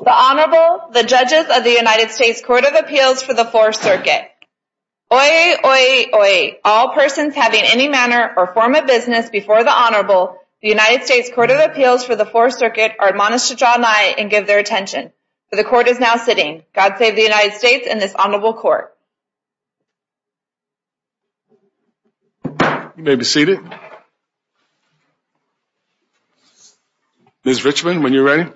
The Honorable, the Judges of the United States Court of Appeals for the Fourth Circuit. Oye, oye, oye, all persons having any manner or form of business before the Honorable, the United States Court of Appeals for the Fourth Circuit are admonished to draw nigh and give their attention. The Court is now sitting. God save the United States and this Ms. Richman, when you're ready.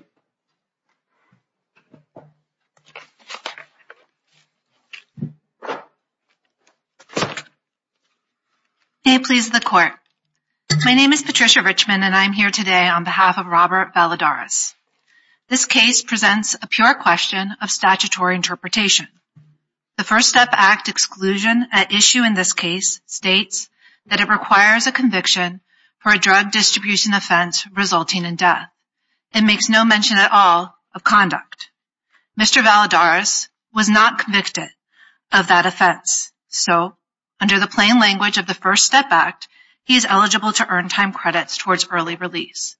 May it please the Court. My name is Patricia Richman and I'm here today on behalf of Robert Valladares. This case presents a pure question of statutory interpretation. The First Step Act exclusion at issue in this case states that it requires a conviction for a drug distribution offense resulting in death. It makes no mention at all of conduct. Mr. Valladares was not convicted of that offense, so under the plain language of the First Step Act, he is eligible to earn time credits towards early release.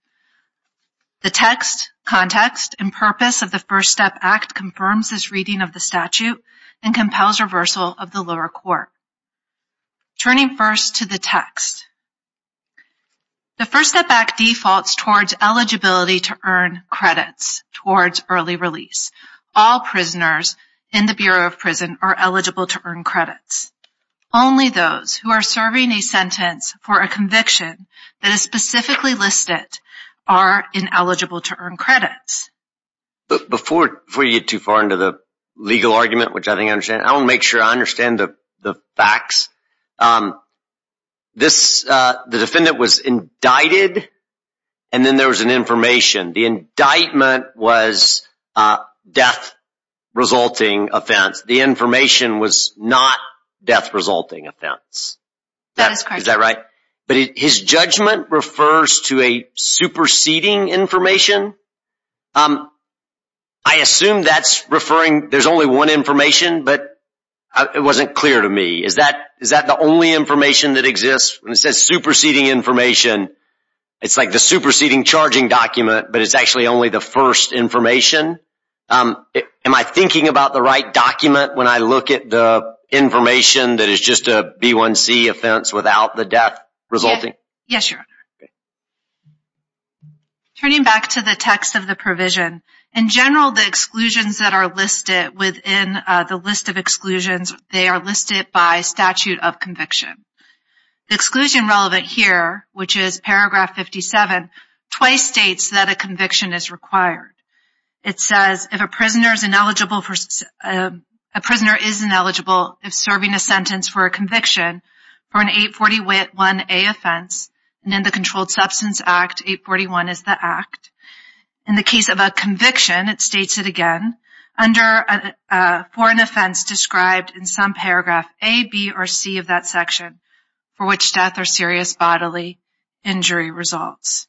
The text, context, and purpose of the First Step Act confirms this reading of the statute and compels reversal of the lower court. Turning first to the text, the First Step Act defaults towards eligibility to earn credits towards early release. All prisoners in the Bureau of Prison are eligible to earn credits. Only those who are serving a sentence for a conviction that is specifically listed are ineligible to earn credits. Before you get too far into the legal argument, which I think I understand, I want to make sure I understand the facts. The defendant was indicted and then there was an information. The indictment was a death-resulting offense. The information was not death-resulting offense. Is that right? But his judgment refers to a superseding information? I assume that's referring, there's only one information, but it wasn't clear to me. Is that the only information that exists? When it says superseding information, it's like the superseding charging document, but it's actually only the first information. Am I thinking about the right document when I look at the information that is just a B1C offense without the death resulting? Yes, Your Honor. Turning back to the text of the provision, in general the exclusions that are listed within the list of exclusions, they are listed by statute of conviction. The exclusion relevant here, which is paragraph 57, twice states that a conviction is required. It says if a prisoner is ineligible if serving a sentence for a conviction for an 841A offense, and in the Controlled Substance Act, 841 is the act. In the case of a conviction, it states it again, under for an offense described in some paragraph A, B, or C of that section for which death or serious bodily injury results.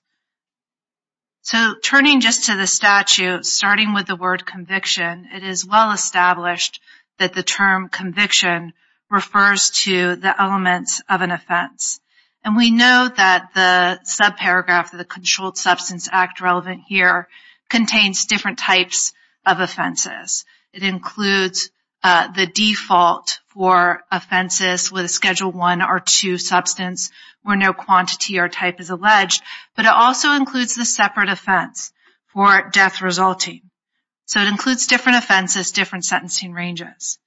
So turning just to the statute, starting with the word conviction, it is well established that the term conviction refers to the elements of an offense. And we know that the subparagraph of the Controlled Substance Act relevant here contains different types of offenses. It includes the default for offenses with a Schedule I or II substance where no quantity or type is alleged, but it also includes the separate offense for death resulting. So it includes different offenses, different sentencing ranges.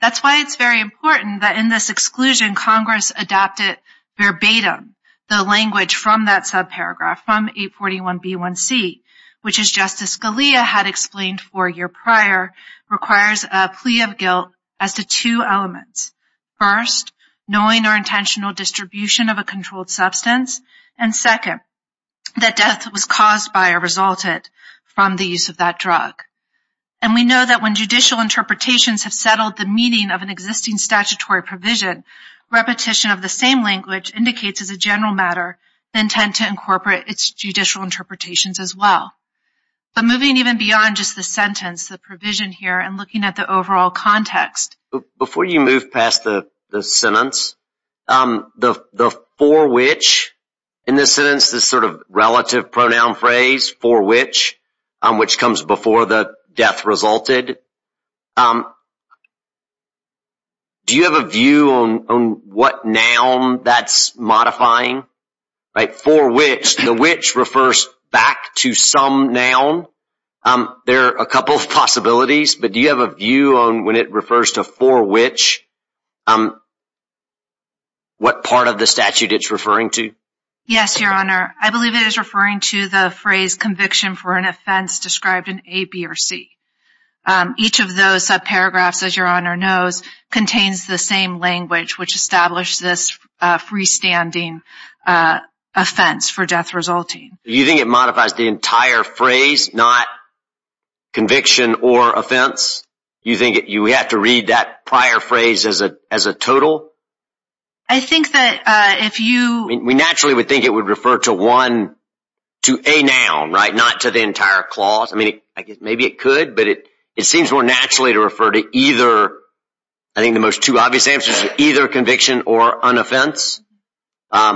That's why it's very important that in this exclusion, Congress adopted verbatim the language from that subparagraph, from 841B1C, which as Justice Scalia had explained four years prior, requires a plea of guilt as to two elements. First, knowing or intentional distribution of a controlled substance, and second, that death was caused by or resulted from the use of that drug. And we know that when judicial interpretations have settled the meaning of an existing statutory provision, repetition of the same language indicates as a general matter the intent to incorporate its judicial interpretations as well. But moving even beyond just the sentence, the provision here, and looking at the overall context. Before you move past the sentence, the for which in this sentence, this sort of relative pronoun phrase, for which, which comes before the death resulted, do you have a view on what noun that's modifying? For which, the which refers back to some noun. There are a couple of possibilities. But do you have a view on when it refers to for which, what part of the statute it's referring to? Yes, Your Honor. I believe it is referring to the phrase conviction for an offense described in A, B, or C. Each of those subparagraphs, as Your Honor knows, contains the same language, which established this freestanding offense for death resulting. You think it modifies the entire phrase, not conviction or offense? You think we have to read that prior phrase as a total? I think that if you... We naturally would think it would refer to one, to a noun, right? Not to the entire clause. I mean, I guess maybe it could, but it seems more naturally to refer to either, I think the most too obvious answer is either conviction or an offense. Do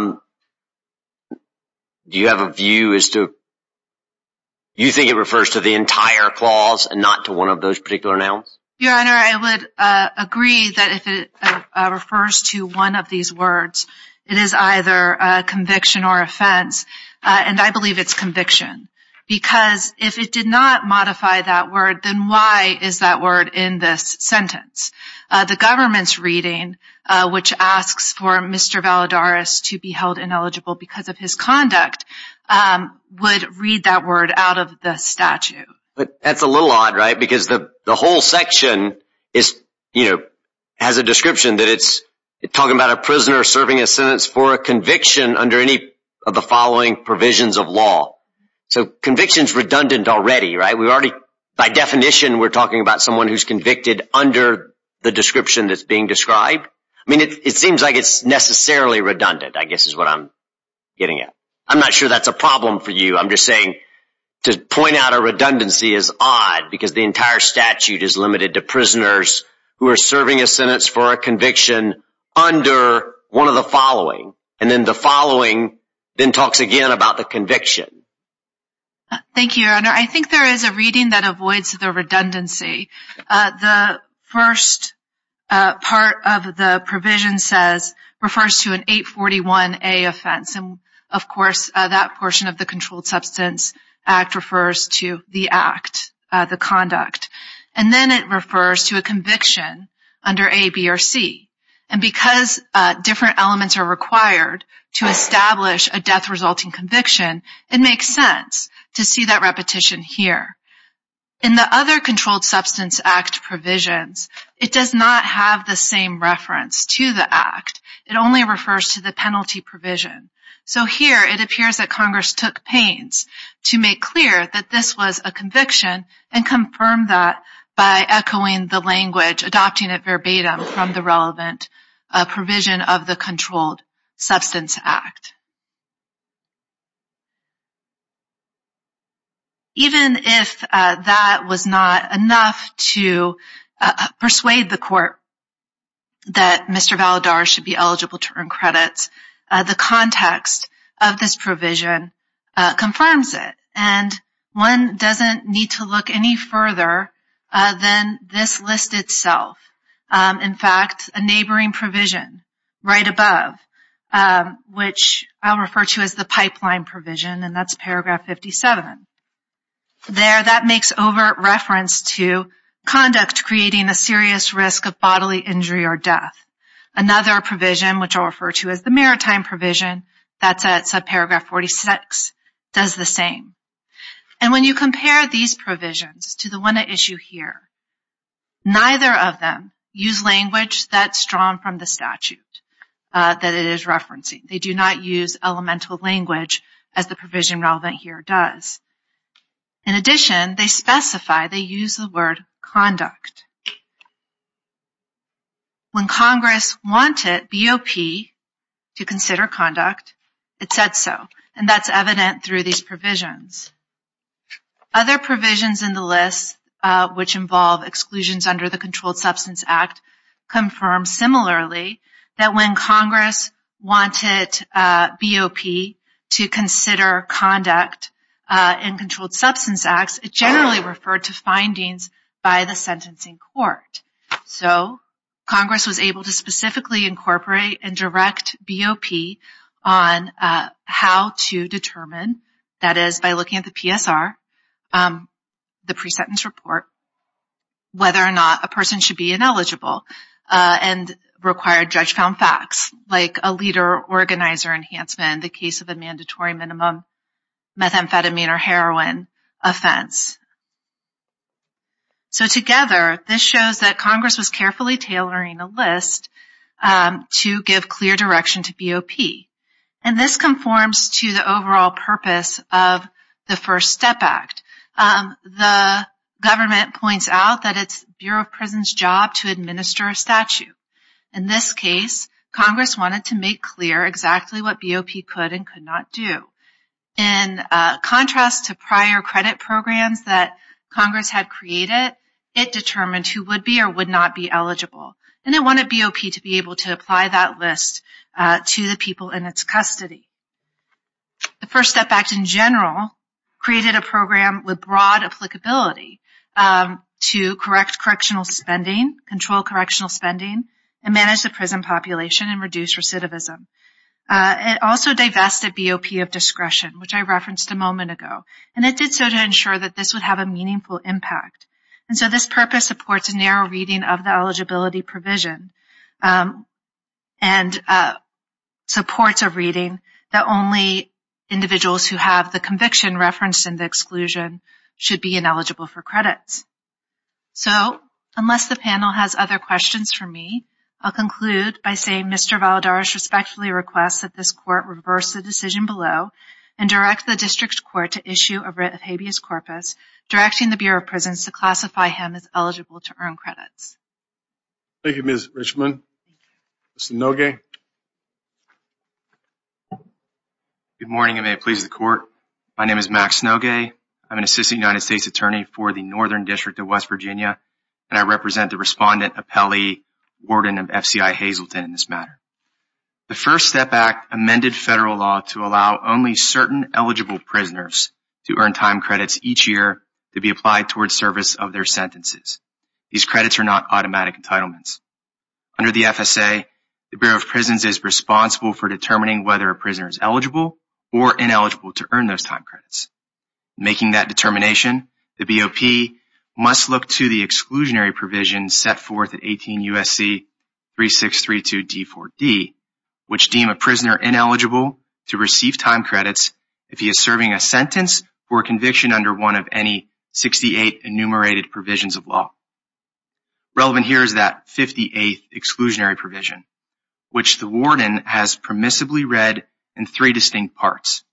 you have a view as to... You think it refers to the entire clause and not to one of those particular nouns? Your Honor, I would agree that if it refers to one of these words, it is either conviction or offense. And I believe it's conviction. Because if it did not modify that word, then why is that word in this sentence? The government's reading, which asks for Mr. Valadares to be held ineligible because of his conduct, would read that word out of the statute. That's a little odd, right? Because the whole section has a description that it's talking about a prisoner serving a sentence for a conviction under any of the following provisions of law. So conviction's redundant already, right? By definition, we're talking about someone who's convicted under the description that's being described. I mean, it seems like it's necessarily redundant, I guess is what I'm getting at. I'm not sure that's a problem for you. I'm just saying to point out a redundancy is odd because the entire statute is limited to prisoners who are serving a sentence for a conviction under one of the following. And then the following then talks again about the conviction. Thank you, Your Honor. I think there is a reading that avoids the redundancy. The first part of the provision says, refers to an 841A offense. And, of course, that portion of the Controlled Substance Act refers to the act, the conduct. And then it refers to a conviction under A, B, or C. And because different elements are required to establish a death-resulting conviction, it makes sense to see that repetition here. In the other Controlled Substance Act provisions, it does not have the same reference to the act. It only refers to the penalty provision. So here it appears that Congress took pains to make clear that this was a conviction and confirmed that by echoing the language, adopting it verbatim from the relevant provision of the Controlled Substance Act. Even if that was not enough to persuade the court that Mr. Valadares should be eligible to earn credits, the context of this provision confirms it. And one doesn't need to look any further than this list itself. In fact, a neighboring provision right above, which I'll refer to as the pipeline provision, and that's paragraph 57. There, that makes overt reference to conduct creating a serious risk of bodily injury or death. Another provision, which I'll refer to as the maritime provision, that's at subparagraph 46, does the same. And when you compare these provisions to the one at issue here, neither of them use language that's drawn from the statute that it is referencing. They do not use elemental language as the provision relevant here does. In addition, they specify they use the word conduct. When Congress wanted BOP to consider conduct, it said so. And that's evident through these provisions. Other provisions in the list, which involve exclusions under the Controlled Substance Act, confirm similarly that when Congress wanted BOP to consider conduct in Controlled Substance Acts, it generally referred to findings by the sentencing court. So Congress was able to specifically incorporate and direct BOP on how to determine, that is by looking at the PSR, the pre-sentence report, whether or not a person should be ineligible, and required judge-found facts, like a leader-organizer enhancement, the case of a mandatory minimum methamphetamine or heroin offense. So together, this shows that Congress was carefully tailoring the list to give clear direction to BOP. And this conforms to the overall purpose of the First Step Act. The government points out that it's Bureau of Prisons' job to administer a statute. In this case, Congress wanted to make clear exactly what BOP could and could not do. In contrast to prior credit programs that Congress had created, it determined who would be or would not be eligible. And it wanted BOP to be able to apply that list to the people in its custody. The First Step Act, in general, created a program with broad applicability to correct correctional spending, control correctional spending, and manage the prison population and reduce recidivism. It also divested BOP of discretion, which I referenced a moment ago. And it did so to ensure that this would have a meaningful impact. And so this purpose supports a narrow reading of the eligibility provision and supports a reading that only individuals who have the conviction referenced in the exclusion should be ineligible for credits. So unless the panel has other questions for me, I'll conclude by saying Mr. Valadares respectfully requests that this court reverse the decision below and direct the district court to issue a writ of habeas corpus directing the Bureau of Prisons to classify him as eligible to earn credits. Thank you, Ms. Richman. Mr. Nogue. Good morning, and may it please the court. My name is Max Nogue. I'm an assistant United States attorney for the Northern District of West Virginia, and I represent the respondent, appellee, warden of FCI Hazleton in this matter. The First Step Act amended federal law to allow only certain eligible prisoners to earn time credits each year to be applied towards service of their sentences. These credits are not automatic entitlements. Under the FSA, the Bureau of Prisons is responsible for determining whether a prisoner is eligible or ineligible to earn those time credits. Making that determination, the BOP must look to the exclusionary provision set forth at 18 U.S.C. 3632-D4D, which deems a prisoner ineligible to receive time credits if he is serving a sentence for conviction under one of any 68 enumerated provisions of law. Relevant here is that 58th exclusionary provision, which the warden has permissibly read in three distinct parts.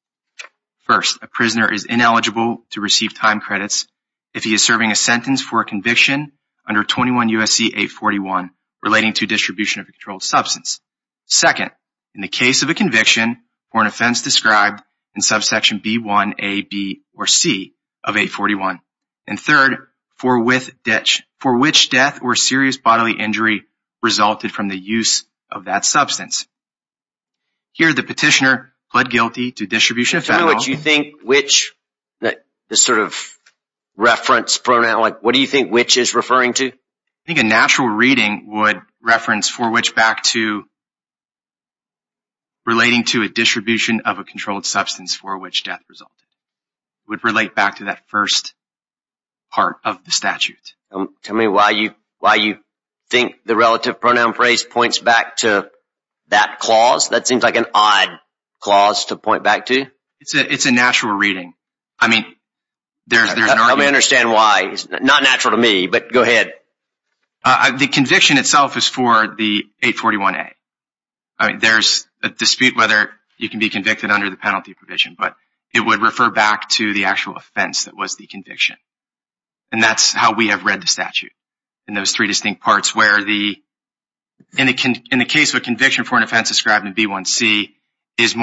First, a prisoner is ineligible to receive time credits if he is serving a sentence for a conviction under 21 U.S.C. 841 relating to distribution of a controlled substance. Second, in the case of a conviction or an offense described in subsection B1AB or C of 841. And third, for which death or serious bodily injury resulted from the use of that substance. Here, the petitioner pled guilty to distribution of federal... Tell me what you think which, the sort of reference pronoun, like what do you think which is referring to? I think a natural reading would reference for which back to relating to a distribution of a controlled substance for which death resulted. It would relate back to that first part of the statute. Tell me why you think the relative pronoun phrase points back to that clause? That seems like an odd clause to point back to. It's a natural reading. I mean, there's an argument... Let me understand why. It's not natural to me, but go ahead. The conviction itself is for the 841A. There's a dispute whether you can be convicted under the penalty provision, but it would refer back to the actual offense that was the conviction. And that's how we have read the statute in those three distinct parts where the... In the case of a conviction for an offense described in B1C, it's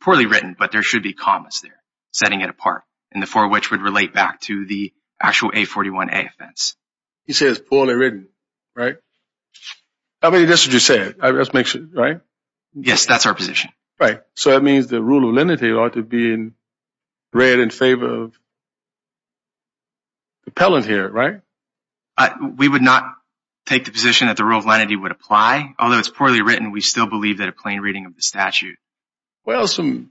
poorly written, but there should be commas there setting it apart, and the for which would relate back to the actual 841A offense. He says poorly written, right? I mean, that's what you said, right? Yes, that's our position. Right. So that means the rule of lenity ought to be read in favor of the appellant here, right? We would not take the position that the rule of lenity would apply. Although it's poorly written, we still believe that a plain reading of the statute. Well, some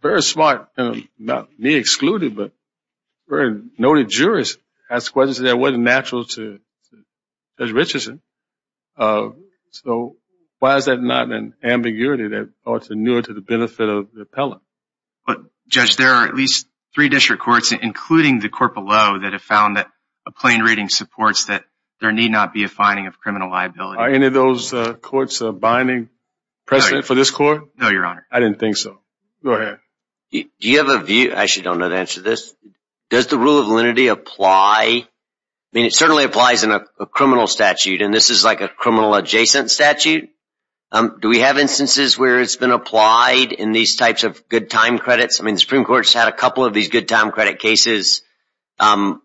very smart, not me excluded, but very noted jurists ask questions that wasn't natural to Judge Richardson. So why is that not an ambiguity that ought to newer to the benefit of the appellant? But Judge, there are at least three district courts, including the court below, that have found that a plain reading supports that there need not be a finding of criminal liability. Are any of those courts binding precedent for this court? No, Your Honor. I didn't think so. Go ahead. Do you have a view? I actually don't know the answer to this. Does the rule of lenity apply? I mean, it certainly applies in a criminal statute. And this is like a criminal adjacent statute. Do we have instances where it's been applied in these types of good time credits? I mean, the Supreme Court's had a couple of these good time credit cases. The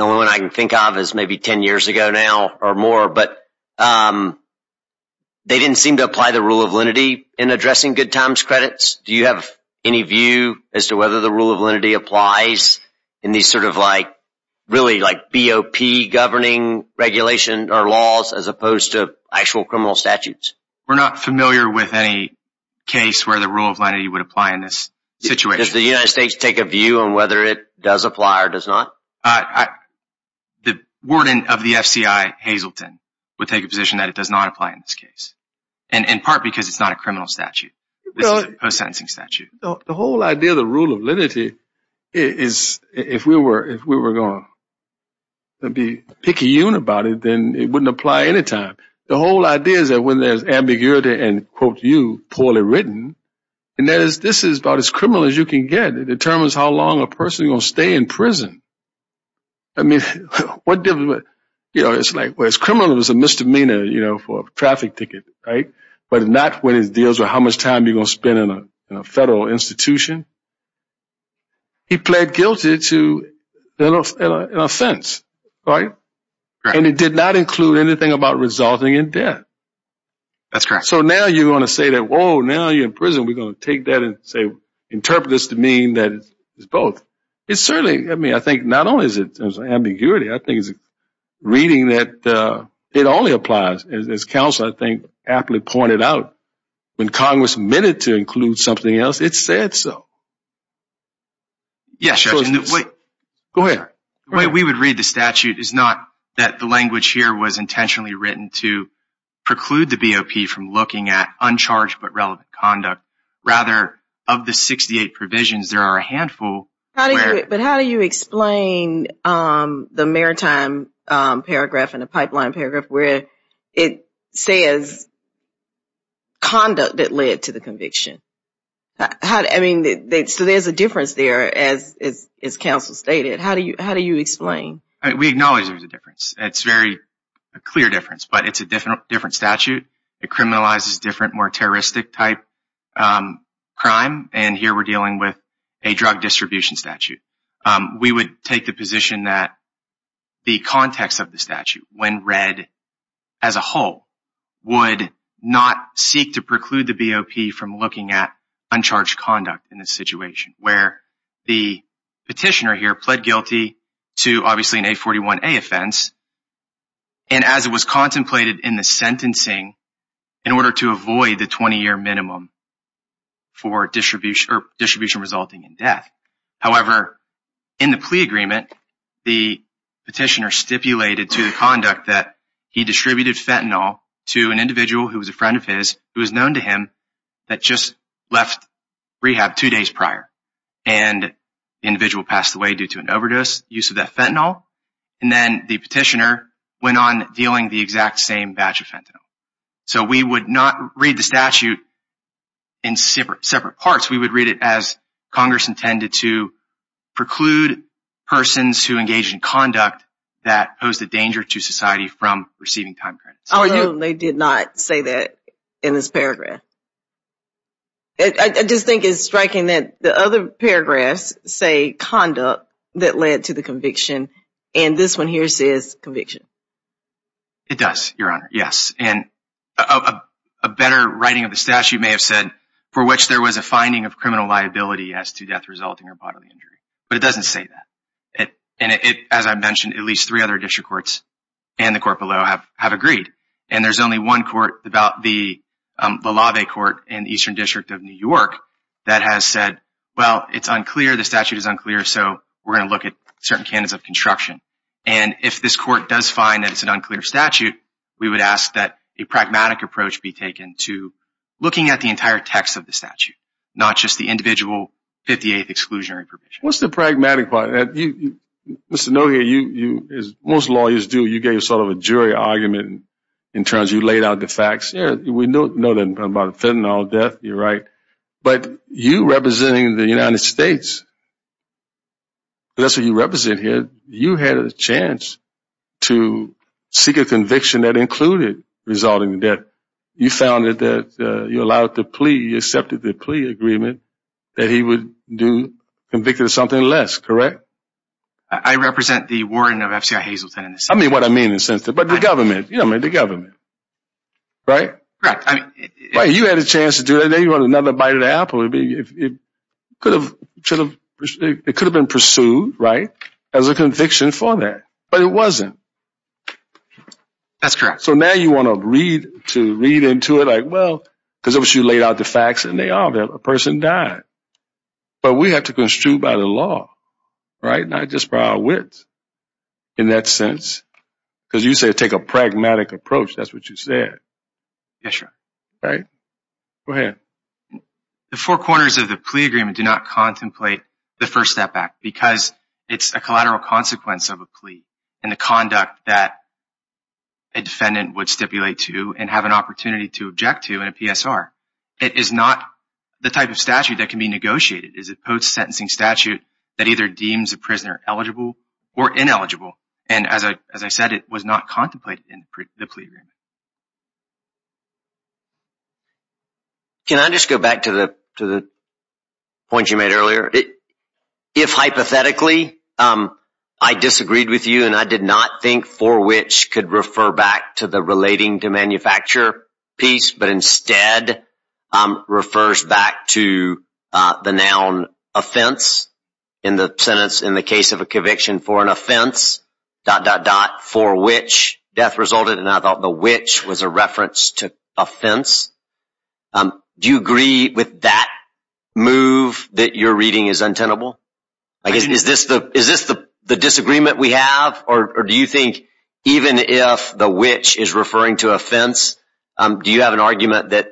only one I can think of is maybe 10 years ago now or more. But they didn't seem to apply the rule of lenity in addressing good times credits. Do you have any view as to whether the rule of lenity applies in these sort of like, really like BOP governing regulation or laws as opposed to actual criminal statutes? We're not familiar with any case where the rule of lenity would apply in this situation. Does the United States take a view on whether it does apply or does not? The warden of the FCI, Hazleton, would take a position that it does not apply in this case. And in part because it's not a criminal statute. This is a post-sentencing statute. The whole idea of the rule of lenity is if we were going to be picky about it, then it wouldn't apply any time. The whole idea is that when there's ambiguity and, quote you, poorly written, and this is about as criminal as you can get, it determines how long a person is going to stay in prison. I mean, it's like as criminal as a misdemeanor for a traffic ticket, right? But not when it deals with how much time you're going to spend in a federal institution. He pled guilty to an offense, right? And it did not include anything about resulting in death. So now you're going to say that, whoa, now you're in prison. We're going to take that and say, interpret this to mean that it's both. It certainly, I mean, I think not only is it in terms of ambiguity, I think it's reading that it only applies. As counsel, I think, aptly pointed out, when Congress meant it to include something else, it said so. Yes, Judge. Go ahead. The way we would read the statute is not that the language here was intentionally written to preclude the BOP from looking at uncharged but relevant conduct. Rather, of the 68 provisions, there are a handful. But how do you explain the maritime paragraph and the pipeline paragraph where it says conduct that led to the conviction? I mean, so there's a difference there, as counsel stated. How do you explain? We acknowledge there's a difference. It's a very clear difference, but it's a different statute. It criminalizes different, more terroristic-type crime, and here we're dealing with a drug distribution statute. We would take the position that the context of the statute, when read as a whole, would not seek to preclude the BOP from looking at uncharged conduct in this situation, where the petitioner here pled guilty to, obviously, an A41A offense, and as it was contemplated in the sentencing, in order to avoid the 20-year minimum for distribution resulting in death. However, in the plea agreement, the petitioner stipulated to the conduct that he distributed fentanyl to an individual who was a friend of his, who was known to him, that just left rehab two days prior. And the individual passed away due to an overdose, the use of that fentanyl, and then the petitioner went on dealing the exact same batch of fentanyl. So we would not read the statute in separate parts. We would read it as Congress intended to preclude persons who engage in conduct that pose a danger to society from receiving time credits. Although they did not say that in this paragraph. I just think it's striking that the other paragraphs say conduct that led to the conviction, and this one here says conviction. It does, Your Honor, yes. And a better writing of the statute may have said, for which there was a finding of criminal liability as to death resulting or bodily injury. But it doesn't say that. And it, as I mentioned, at least three other district courts and the court below have agreed. And there's only one court, the LaVey Court in the Eastern District of New York, that has said, well, it's unclear, the statute is unclear, so we're going to look at certain canons of construction. And if this court does find that it's an unclear statute, we would ask that a pragmatic approach be taken to looking at the entire text of the statute, not just the individual 58th exclusionary provision. What's the pragmatic part? Mr. Nohia, you, as most lawyers do, you gave sort of a jury argument in terms you laid out the facts. Yeah, we know that about fentanyl death, you're right. But you representing the United States, that's what you represent here. You had a chance to seek a conviction that included resulting in death. You found that you allowed the plea, you accepted the plea agreement that he would be convicted of something less, correct? I represent the warden of FCI Hazleton. I mean what I mean, but the government, you know, the government, right? Right. You had a chance to do that, then you want another bite of the apple. It could have been pursued, right, as a conviction for that, but it wasn't. That's correct. So now you want to read into it like, well, because you laid out the facts and they are there, a person died. But we have to construe by the law, right, not just by our wits in that sense. Because you said take a pragmatic approach, that's what you said. Yes, sir. Go ahead. The four corners of the plea agreement do not contemplate the First Step Act because it's a collateral consequence of a plea and the conduct that a defendant would stipulate to and have an opportunity to object to in a PSR. It is not the type of statute that can be negotiated. It is a post-sentencing statute that either deems a prisoner eligible or ineligible. And as I said, it was not contemplated in the plea agreement. Can I just go back to the point you made earlier? If hypothetically I disagreed with you and I did not think for which could refer back to the relating to manufacture piece, but instead refers back to the noun offense in the sentence, in the case of a conviction for an offense, dot, dot, dot, for which death resulted, and I thought the which was a reference to offense. Do you agree with that move that you're reading is untenable? Is this the disagreement we have or do you think even if the which is referring to offense, do you have an argument that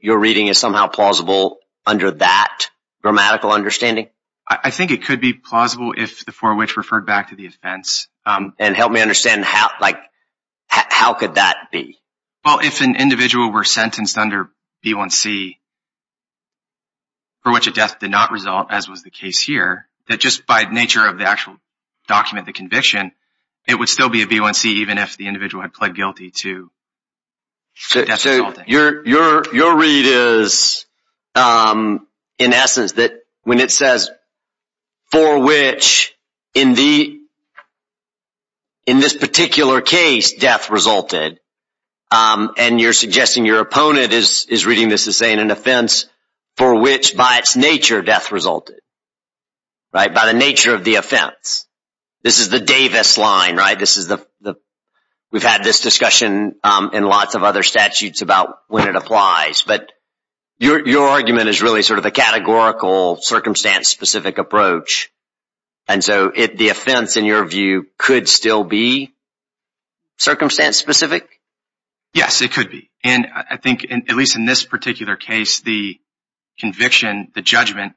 you're reading is somehow plausible under that grammatical understanding? I think it could be plausible if the for which referred back to the offense. And help me understand how could that be? Well, if an individual were sentenced under B1C for which a death did not result, as was the case here, that just by nature of the actual document, the conviction, it would still be a B1C even if the individual had pled guilty to death resulting. Your read is in essence that when it says for which in this particular case death resulted, and you're suggesting your opponent is reading this as saying an offense for which by its nature death resulted, by the nature of the offense, this is the Davis line, right? But your argument is really sort of a categorical, circumstance-specific approach. And so the offense, in your view, could still be circumstance-specific? Yes, it could be. And I think at least in this particular case, the conviction, the judgment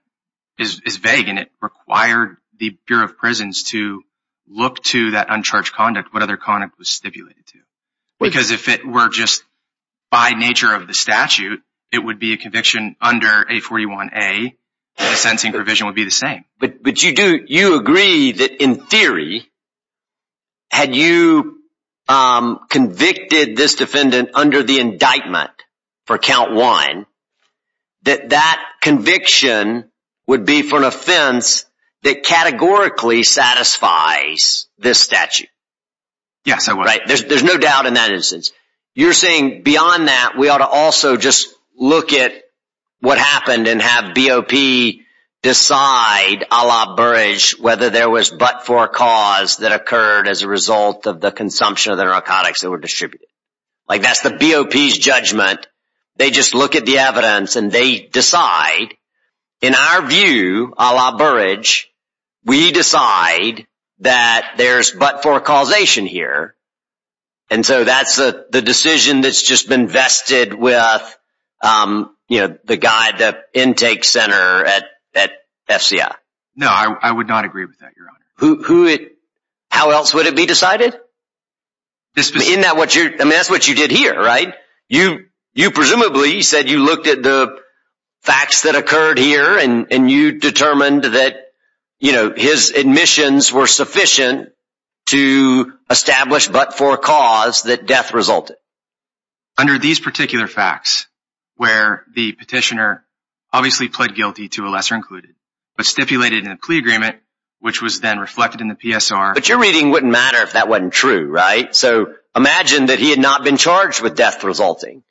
is vague, and it required the Bureau of Prisons to look to that uncharged conduct, what other conduct was stipulated to. Because if it were just by nature of the statute, it would be a conviction under A41A, and the sentencing provision would be the same. But you agree that in theory, had you convicted this defendant under the indictment for count one, that that conviction would be for an offense that categorically satisfies this statute. Yes, I would. There's no doubt in that instance. You're saying beyond that, we ought to also just look at what happened and have BOP decide, a la Burrage, whether there was but-for cause that occurred as a result of the consumption of the narcotics that were distributed. Like that's the BOP's judgment. They just look at the evidence, and they decide, in our view, a la Burrage, we decide that there's but-for causation here. And so that's the decision that's just been vested with the guy at the intake center at FCI. No, I would not agree with that, Your Honor. How else would it be decided? I mean, that's what you did here, right? You presumably said you looked at the facts that occurred here, and you determined that his admissions were sufficient to establish but-for cause that death resulted. Under these particular facts, where the petitioner obviously pled guilty to a lesser included, but stipulated in a plea agreement, which was then reflected in the PSR. But your reading wouldn't matter if that wasn't true, right? So imagine that he had not been charged with death resulting,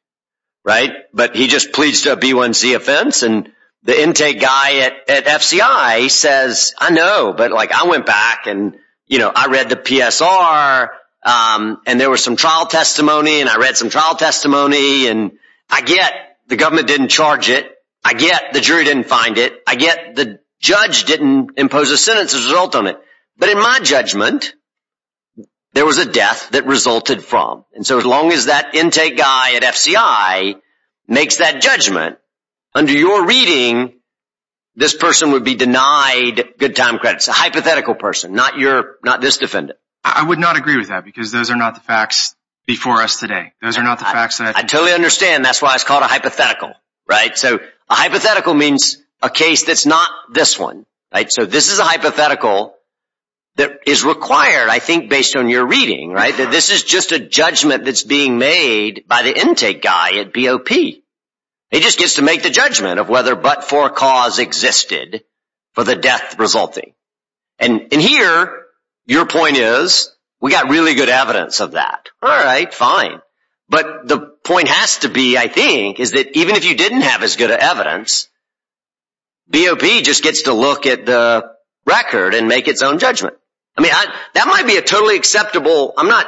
right? But he just pleads to a B1C offense, and the intake guy at FCI says, I know, but I went back, and I read the PSR, and there was some trial testimony, and I read some trial testimony, and I get the government didn't charge it. I get the jury didn't find it. I get the judge didn't impose a sentence as a result on it. But in my judgment, there was a death that resulted from. And so as long as that intake guy at FCI makes that judgment, under your reading, this person would be denied good time credits, a hypothetical person, not this defendant. I would not agree with that because those are not the facts before us today. I totally understand. That's why it's called a hypothetical, right? So a hypothetical means a case that's not this one, right? So this is a hypothetical that is required, I think, based on your reading, right, that this is just a judgment that's being made by the intake guy at BOP. He just gets to make the judgment of whether but-for cause existed for the death resulting. And here, your point is, we got really good evidence of that. All right, fine. But the point has to be, I think, is that even if you didn't have as good evidence, BOP just gets to look at the record and make its own judgment. I mean, that might be a totally acceptable. I'm not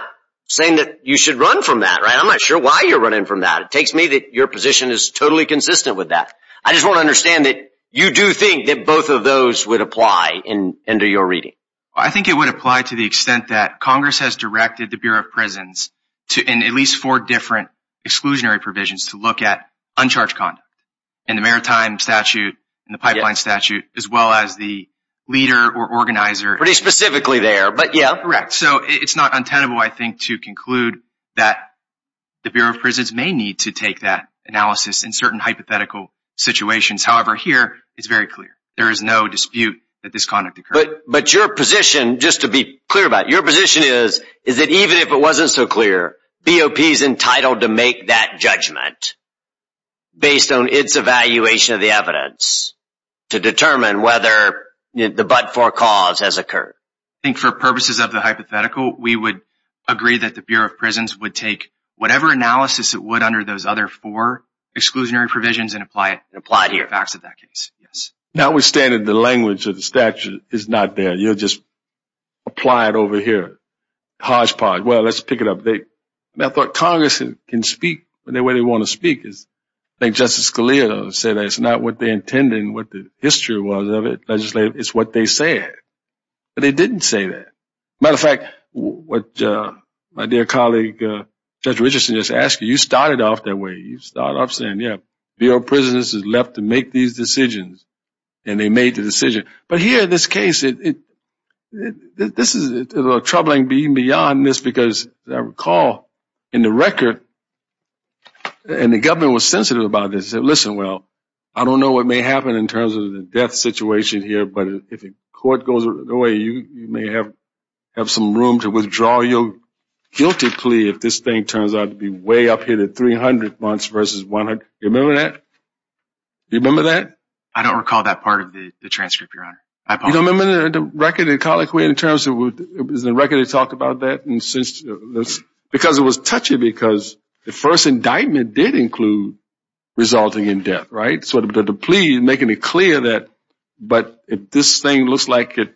saying that you should run from that, right? I'm not sure why you're running from that. It takes me that your position is totally consistent with that. I just want to understand that you do think that both of those would apply under your reading. I think it would apply to the extent that Congress has directed the Bureau of Prisons and at least four different exclusionary provisions to look at uncharged conduct in the Maritime Statute, in the Pipeline Statute, as well as the leader or organizer. Pretty specifically there, but yeah. Correct. So it's not untenable, I think, to conclude that the Bureau of Prisons may need to take that analysis in certain hypothetical situations. However, here, it's very clear. There is no dispute that this conduct occurred. But your position, just to be clear about it, your position is that even if it wasn't so clear, BOP is entitled to make that judgment based on its evaluation of the evidence to determine whether the but-for cause has occurred. I think for purposes of the hypothetical, we would agree that the Bureau of Prisons would take whatever analysis it would under those other four exclusionary provisions and apply it here. Notwithstanding, the language of the statute is not there. You'll just apply it over here. HodgePodge. Well, let's pick it up. I thought Congress can speak the way they want to speak. I think Justice Scalia said it's not what they intended and what the history was of it, legislative, it's what they said. But they didn't say that. As a matter of fact, what my dear colleague, Judge Richardson, just asked you, you started off that way. You started off saying, yeah, Bureau of Prisons is left to make these decisions, and they made the decision. But here in this case, this is a troubling being beyond this because, as I recall, in the record, and the government was sensitive about this, they said, listen, well, I don't know what may happen in terms of the death situation here, but if the court goes away, you may have some room to withdraw your guilty plea if this thing turns out to be way up here to 300 months versus 100. Do you remember that? Do you remember that? I don't recall that part of the transcript, Your Honor. You don't remember the record in colloquy in terms of the record that talked about that? Because it was touching because the first indictment did include resulting in death, right? So the plea making it clear that, but if this thing looks like it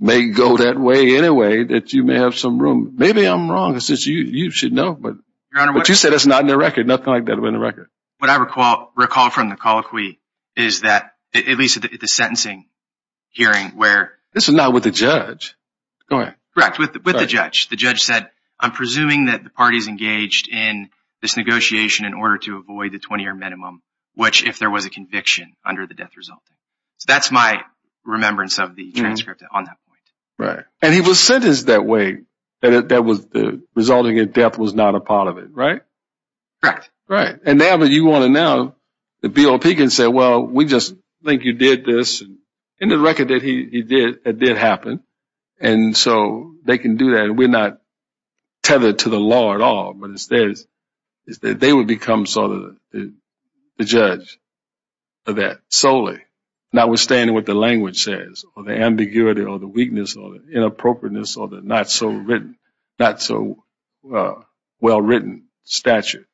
may go that way anyway, that you may have some room. Maybe I'm wrong. You should know. But you said it's not in the record. Nothing like that was in the record. What I recall from the colloquy is that, at least at the sentencing hearing where— This is not with the judge. Correct. With the judge. The judge said, I'm presuming that the party's engaged in this negotiation in order to avoid the 20-year minimum, which if there was a conviction under the death resulting. So that's my remembrance of the transcript on that point. Right. And he was sentenced that way, that resulting in death was not a part of it, right? Correct. Right. And now that you want to know, the BOP can say, well, we just think you did this. In the record that he did, it did happen. And so they can do that. We're not tethered to the law at all. But instead, they would become sort of the judge of that solely, notwithstanding what the language says or the ambiguity or the weakness or the inappropriateness or the not so well-written statute.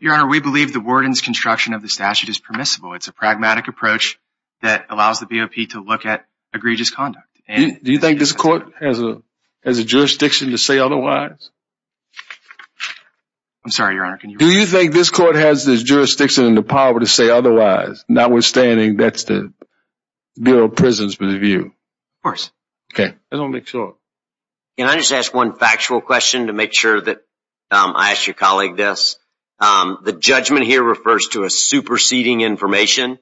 Your Honor, we believe the warden's construction of the statute is permissible. It's a pragmatic approach that allows the BOP to look at egregious conduct. Do you think this court has a jurisdiction to say otherwise? I'm sorry, Your Honor. Do you think this court has the jurisdiction and the power to say otherwise, notwithstanding that's the Bureau of Prisons' view? Of course. Okay. I want to make sure. Can I just ask one factual question to make sure that I ask your colleague this? The judgment here refers to a superseding information.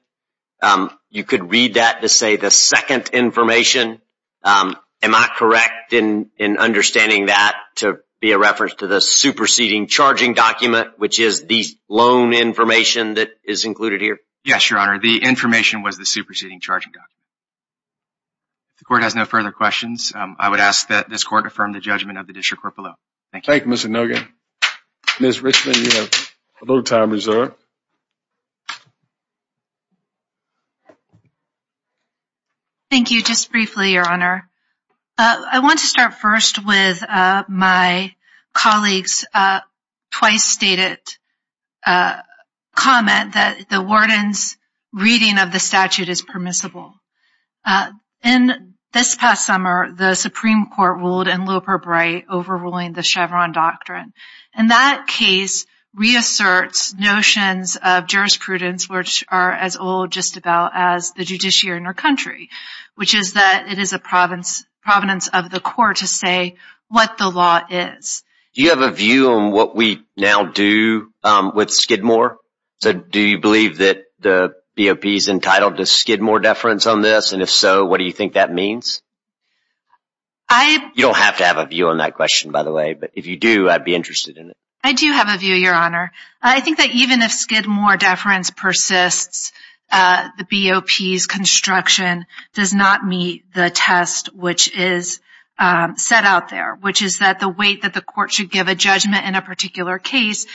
You could read that to say the second information. Am I correct in understanding that to be a reference to the superseding charging document, which is the loan information that is included here? Yes, Your Honor. The information was the superseding charging document. The court has no further questions. I would ask that this court affirm the judgment of the district court below. Thank you. Thank you, Mr. Nugent. Ms. Richmond, you have a little time reserved. Thank you. Just briefly, Your Honor, I want to start first with my colleague's twice-stated comment that the warden's reading of the statute is permissible. In this past summer, the Supreme Court ruled in Loeper-Bright overruling the Chevron Doctrine. And that case reasserts notions of jurisprudence, which are as old just about as the judiciary in our country, which is that it is a providence of the court to say what the law is. Do you have a view on what we now do with Skidmore? Do you believe that the BOP is entitled to Skidmore deference on this? And if so, what do you think that means? You don't have to have a view on that question, by the way, but if you do, I'd be interested in it. I do have a view, Your Honor. I think that even if Skidmore deference persists, the BOP's construction does not meet the test which is set out there, which is that the weight that the court should give a judgment in a particular case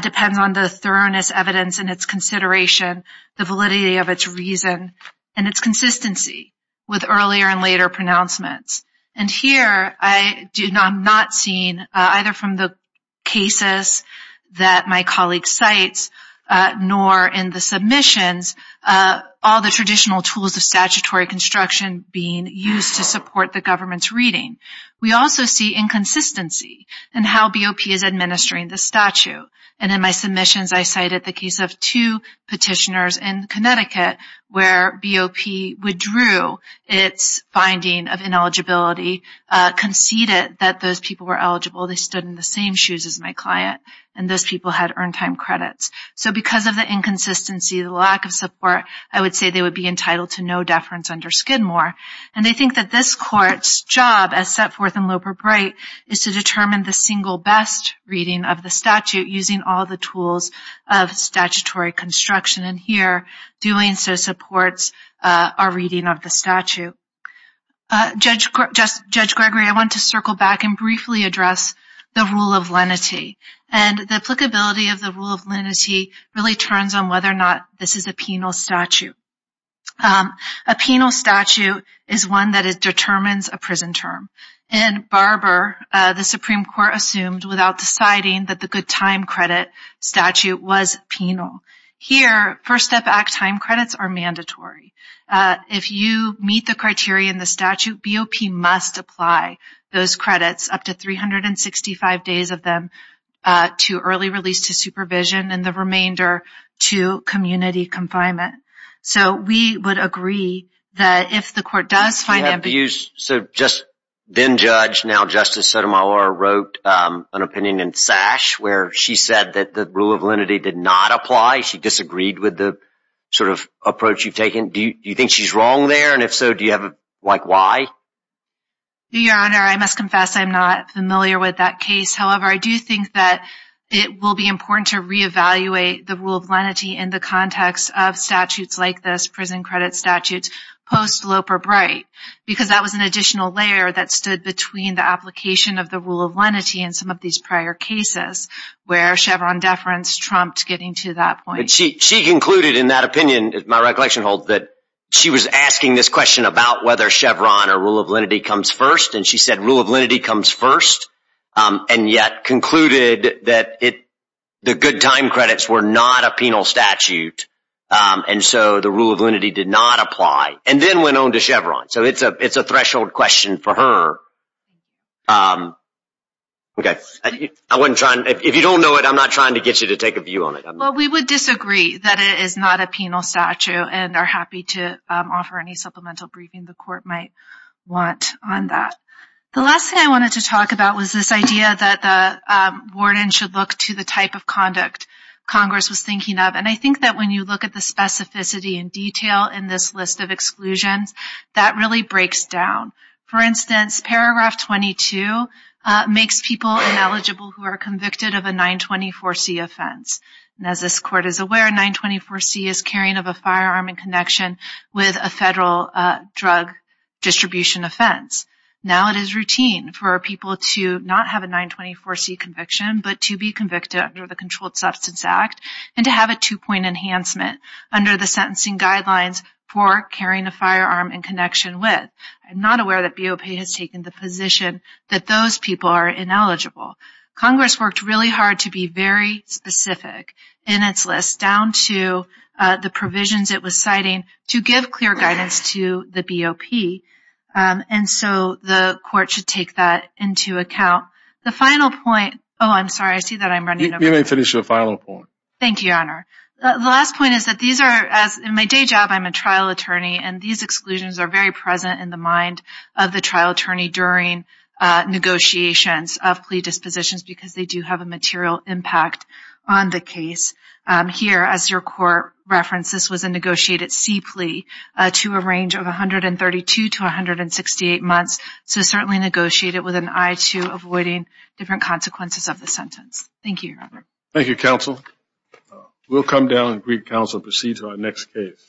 depends on the thoroughness, evidence, and its consideration, the validity of its reason, and its consistency with earlier and later pronouncements. And here I'm not seeing, either from the cases that my colleague cites nor in the submissions, all the traditional tools of statutory construction being used to support the government's reading. We also see inconsistency in how BOP is administering the statute. And in my submissions, I cited the case of two petitioners in Connecticut where BOP withdrew its finding of ineligibility, conceded that those people were eligible, they stood in the same shoes as my client, and those people had earned time credits. So because of the inconsistency, the lack of support, I would say they would be entitled to no deference under Skidmore. And they think that this court's job, as set forth in Loeb or Bright, is to determine the single best reading of the statute using all the tools of statutory construction. And here, doing so supports our reading of the statute. Judge Gregory, I want to circle back and briefly address the rule of lenity. And the applicability of the rule of lenity really turns on whether or not this is a penal statute. A penal statute is one that determines a prison term. In Barber, the Supreme Court assumed without deciding that the good time credit statute was penal. Here, First Step Act time credits are mandatory. If you meet the criteria in the statute, BOP must apply those credits, up to 365 days of them, to early release to supervision and the remainder to community confinement. So we would agree that if the court does find that. So just then judge, now Justice Sotomayor wrote an opinion in Sash where she said that the rule of lenity did not apply. She disagreed with the sort of approach you've taken. Do you think she's wrong there? And if so, do you have like why? Your Honor, I must confess I'm not familiar with that case. However, I do think that it will be important to reevaluate the rule of lenity in the context of statutes like this, prison credit statutes, post-Loper Bright. Because that was an additional layer that stood between the application of the rule of lenity and some of these prior cases where Chevron deference trumped getting to that point. She concluded in that opinion, as my recollection holds, that she was asking this question about whether Chevron or rule of lenity comes first. And she said rule of lenity comes first. And yet concluded that the good time credits were not a penal statute. And so the rule of lenity did not apply and then went on to Chevron. So it's a threshold question for her. If you don't know it, I'm not trying to get you to take a view on it. Well, we would disagree that it is not a penal statute and are happy to offer any supplemental briefing the court might want on that. The last thing I wanted to talk about was this idea that the warden should look to the type of conduct Congress was thinking of. And I think that when you look at the specificity and detail in this list of exclusions, that really breaks down. For instance, paragraph 22 makes people ineligible who are convicted of a 924C offense. And as this court is aware, 924C is carrying of a firearm in connection with a federal drug distribution offense. Now it is routine for people to not have a 924C conviction, but to be convicted under the Controlled Substance Act and to have a two-point enhancement under the sentencing guidelines for carrying a firearm in connection with. I'm not aware that BOP has taken the position that those people are ineligible. Congress worked really hard to be very specific in its list down to the provisions it was citing to give clear guidance to the BOP. And so the court should take that into account. The final point, oh, I'm sorry, I see that I'm running over. You may finish your final point. Thank you, Your Honor. The last point is that these are, as in my day job, I'm a trial attorney, and these exclusions are very present in the mind of the trial attorney during negotiations of plea dispositions because they do have a material impact on the case. Here, as your court referenced, this was a negotiated C plea to a range of 132 to 168 months. So certainly negotiate it with an eye to avoiding different consequences of the sentence. Thank you, Your Honor. Thank you, counsel. We'll come down and greet counsel and proceed to our next case.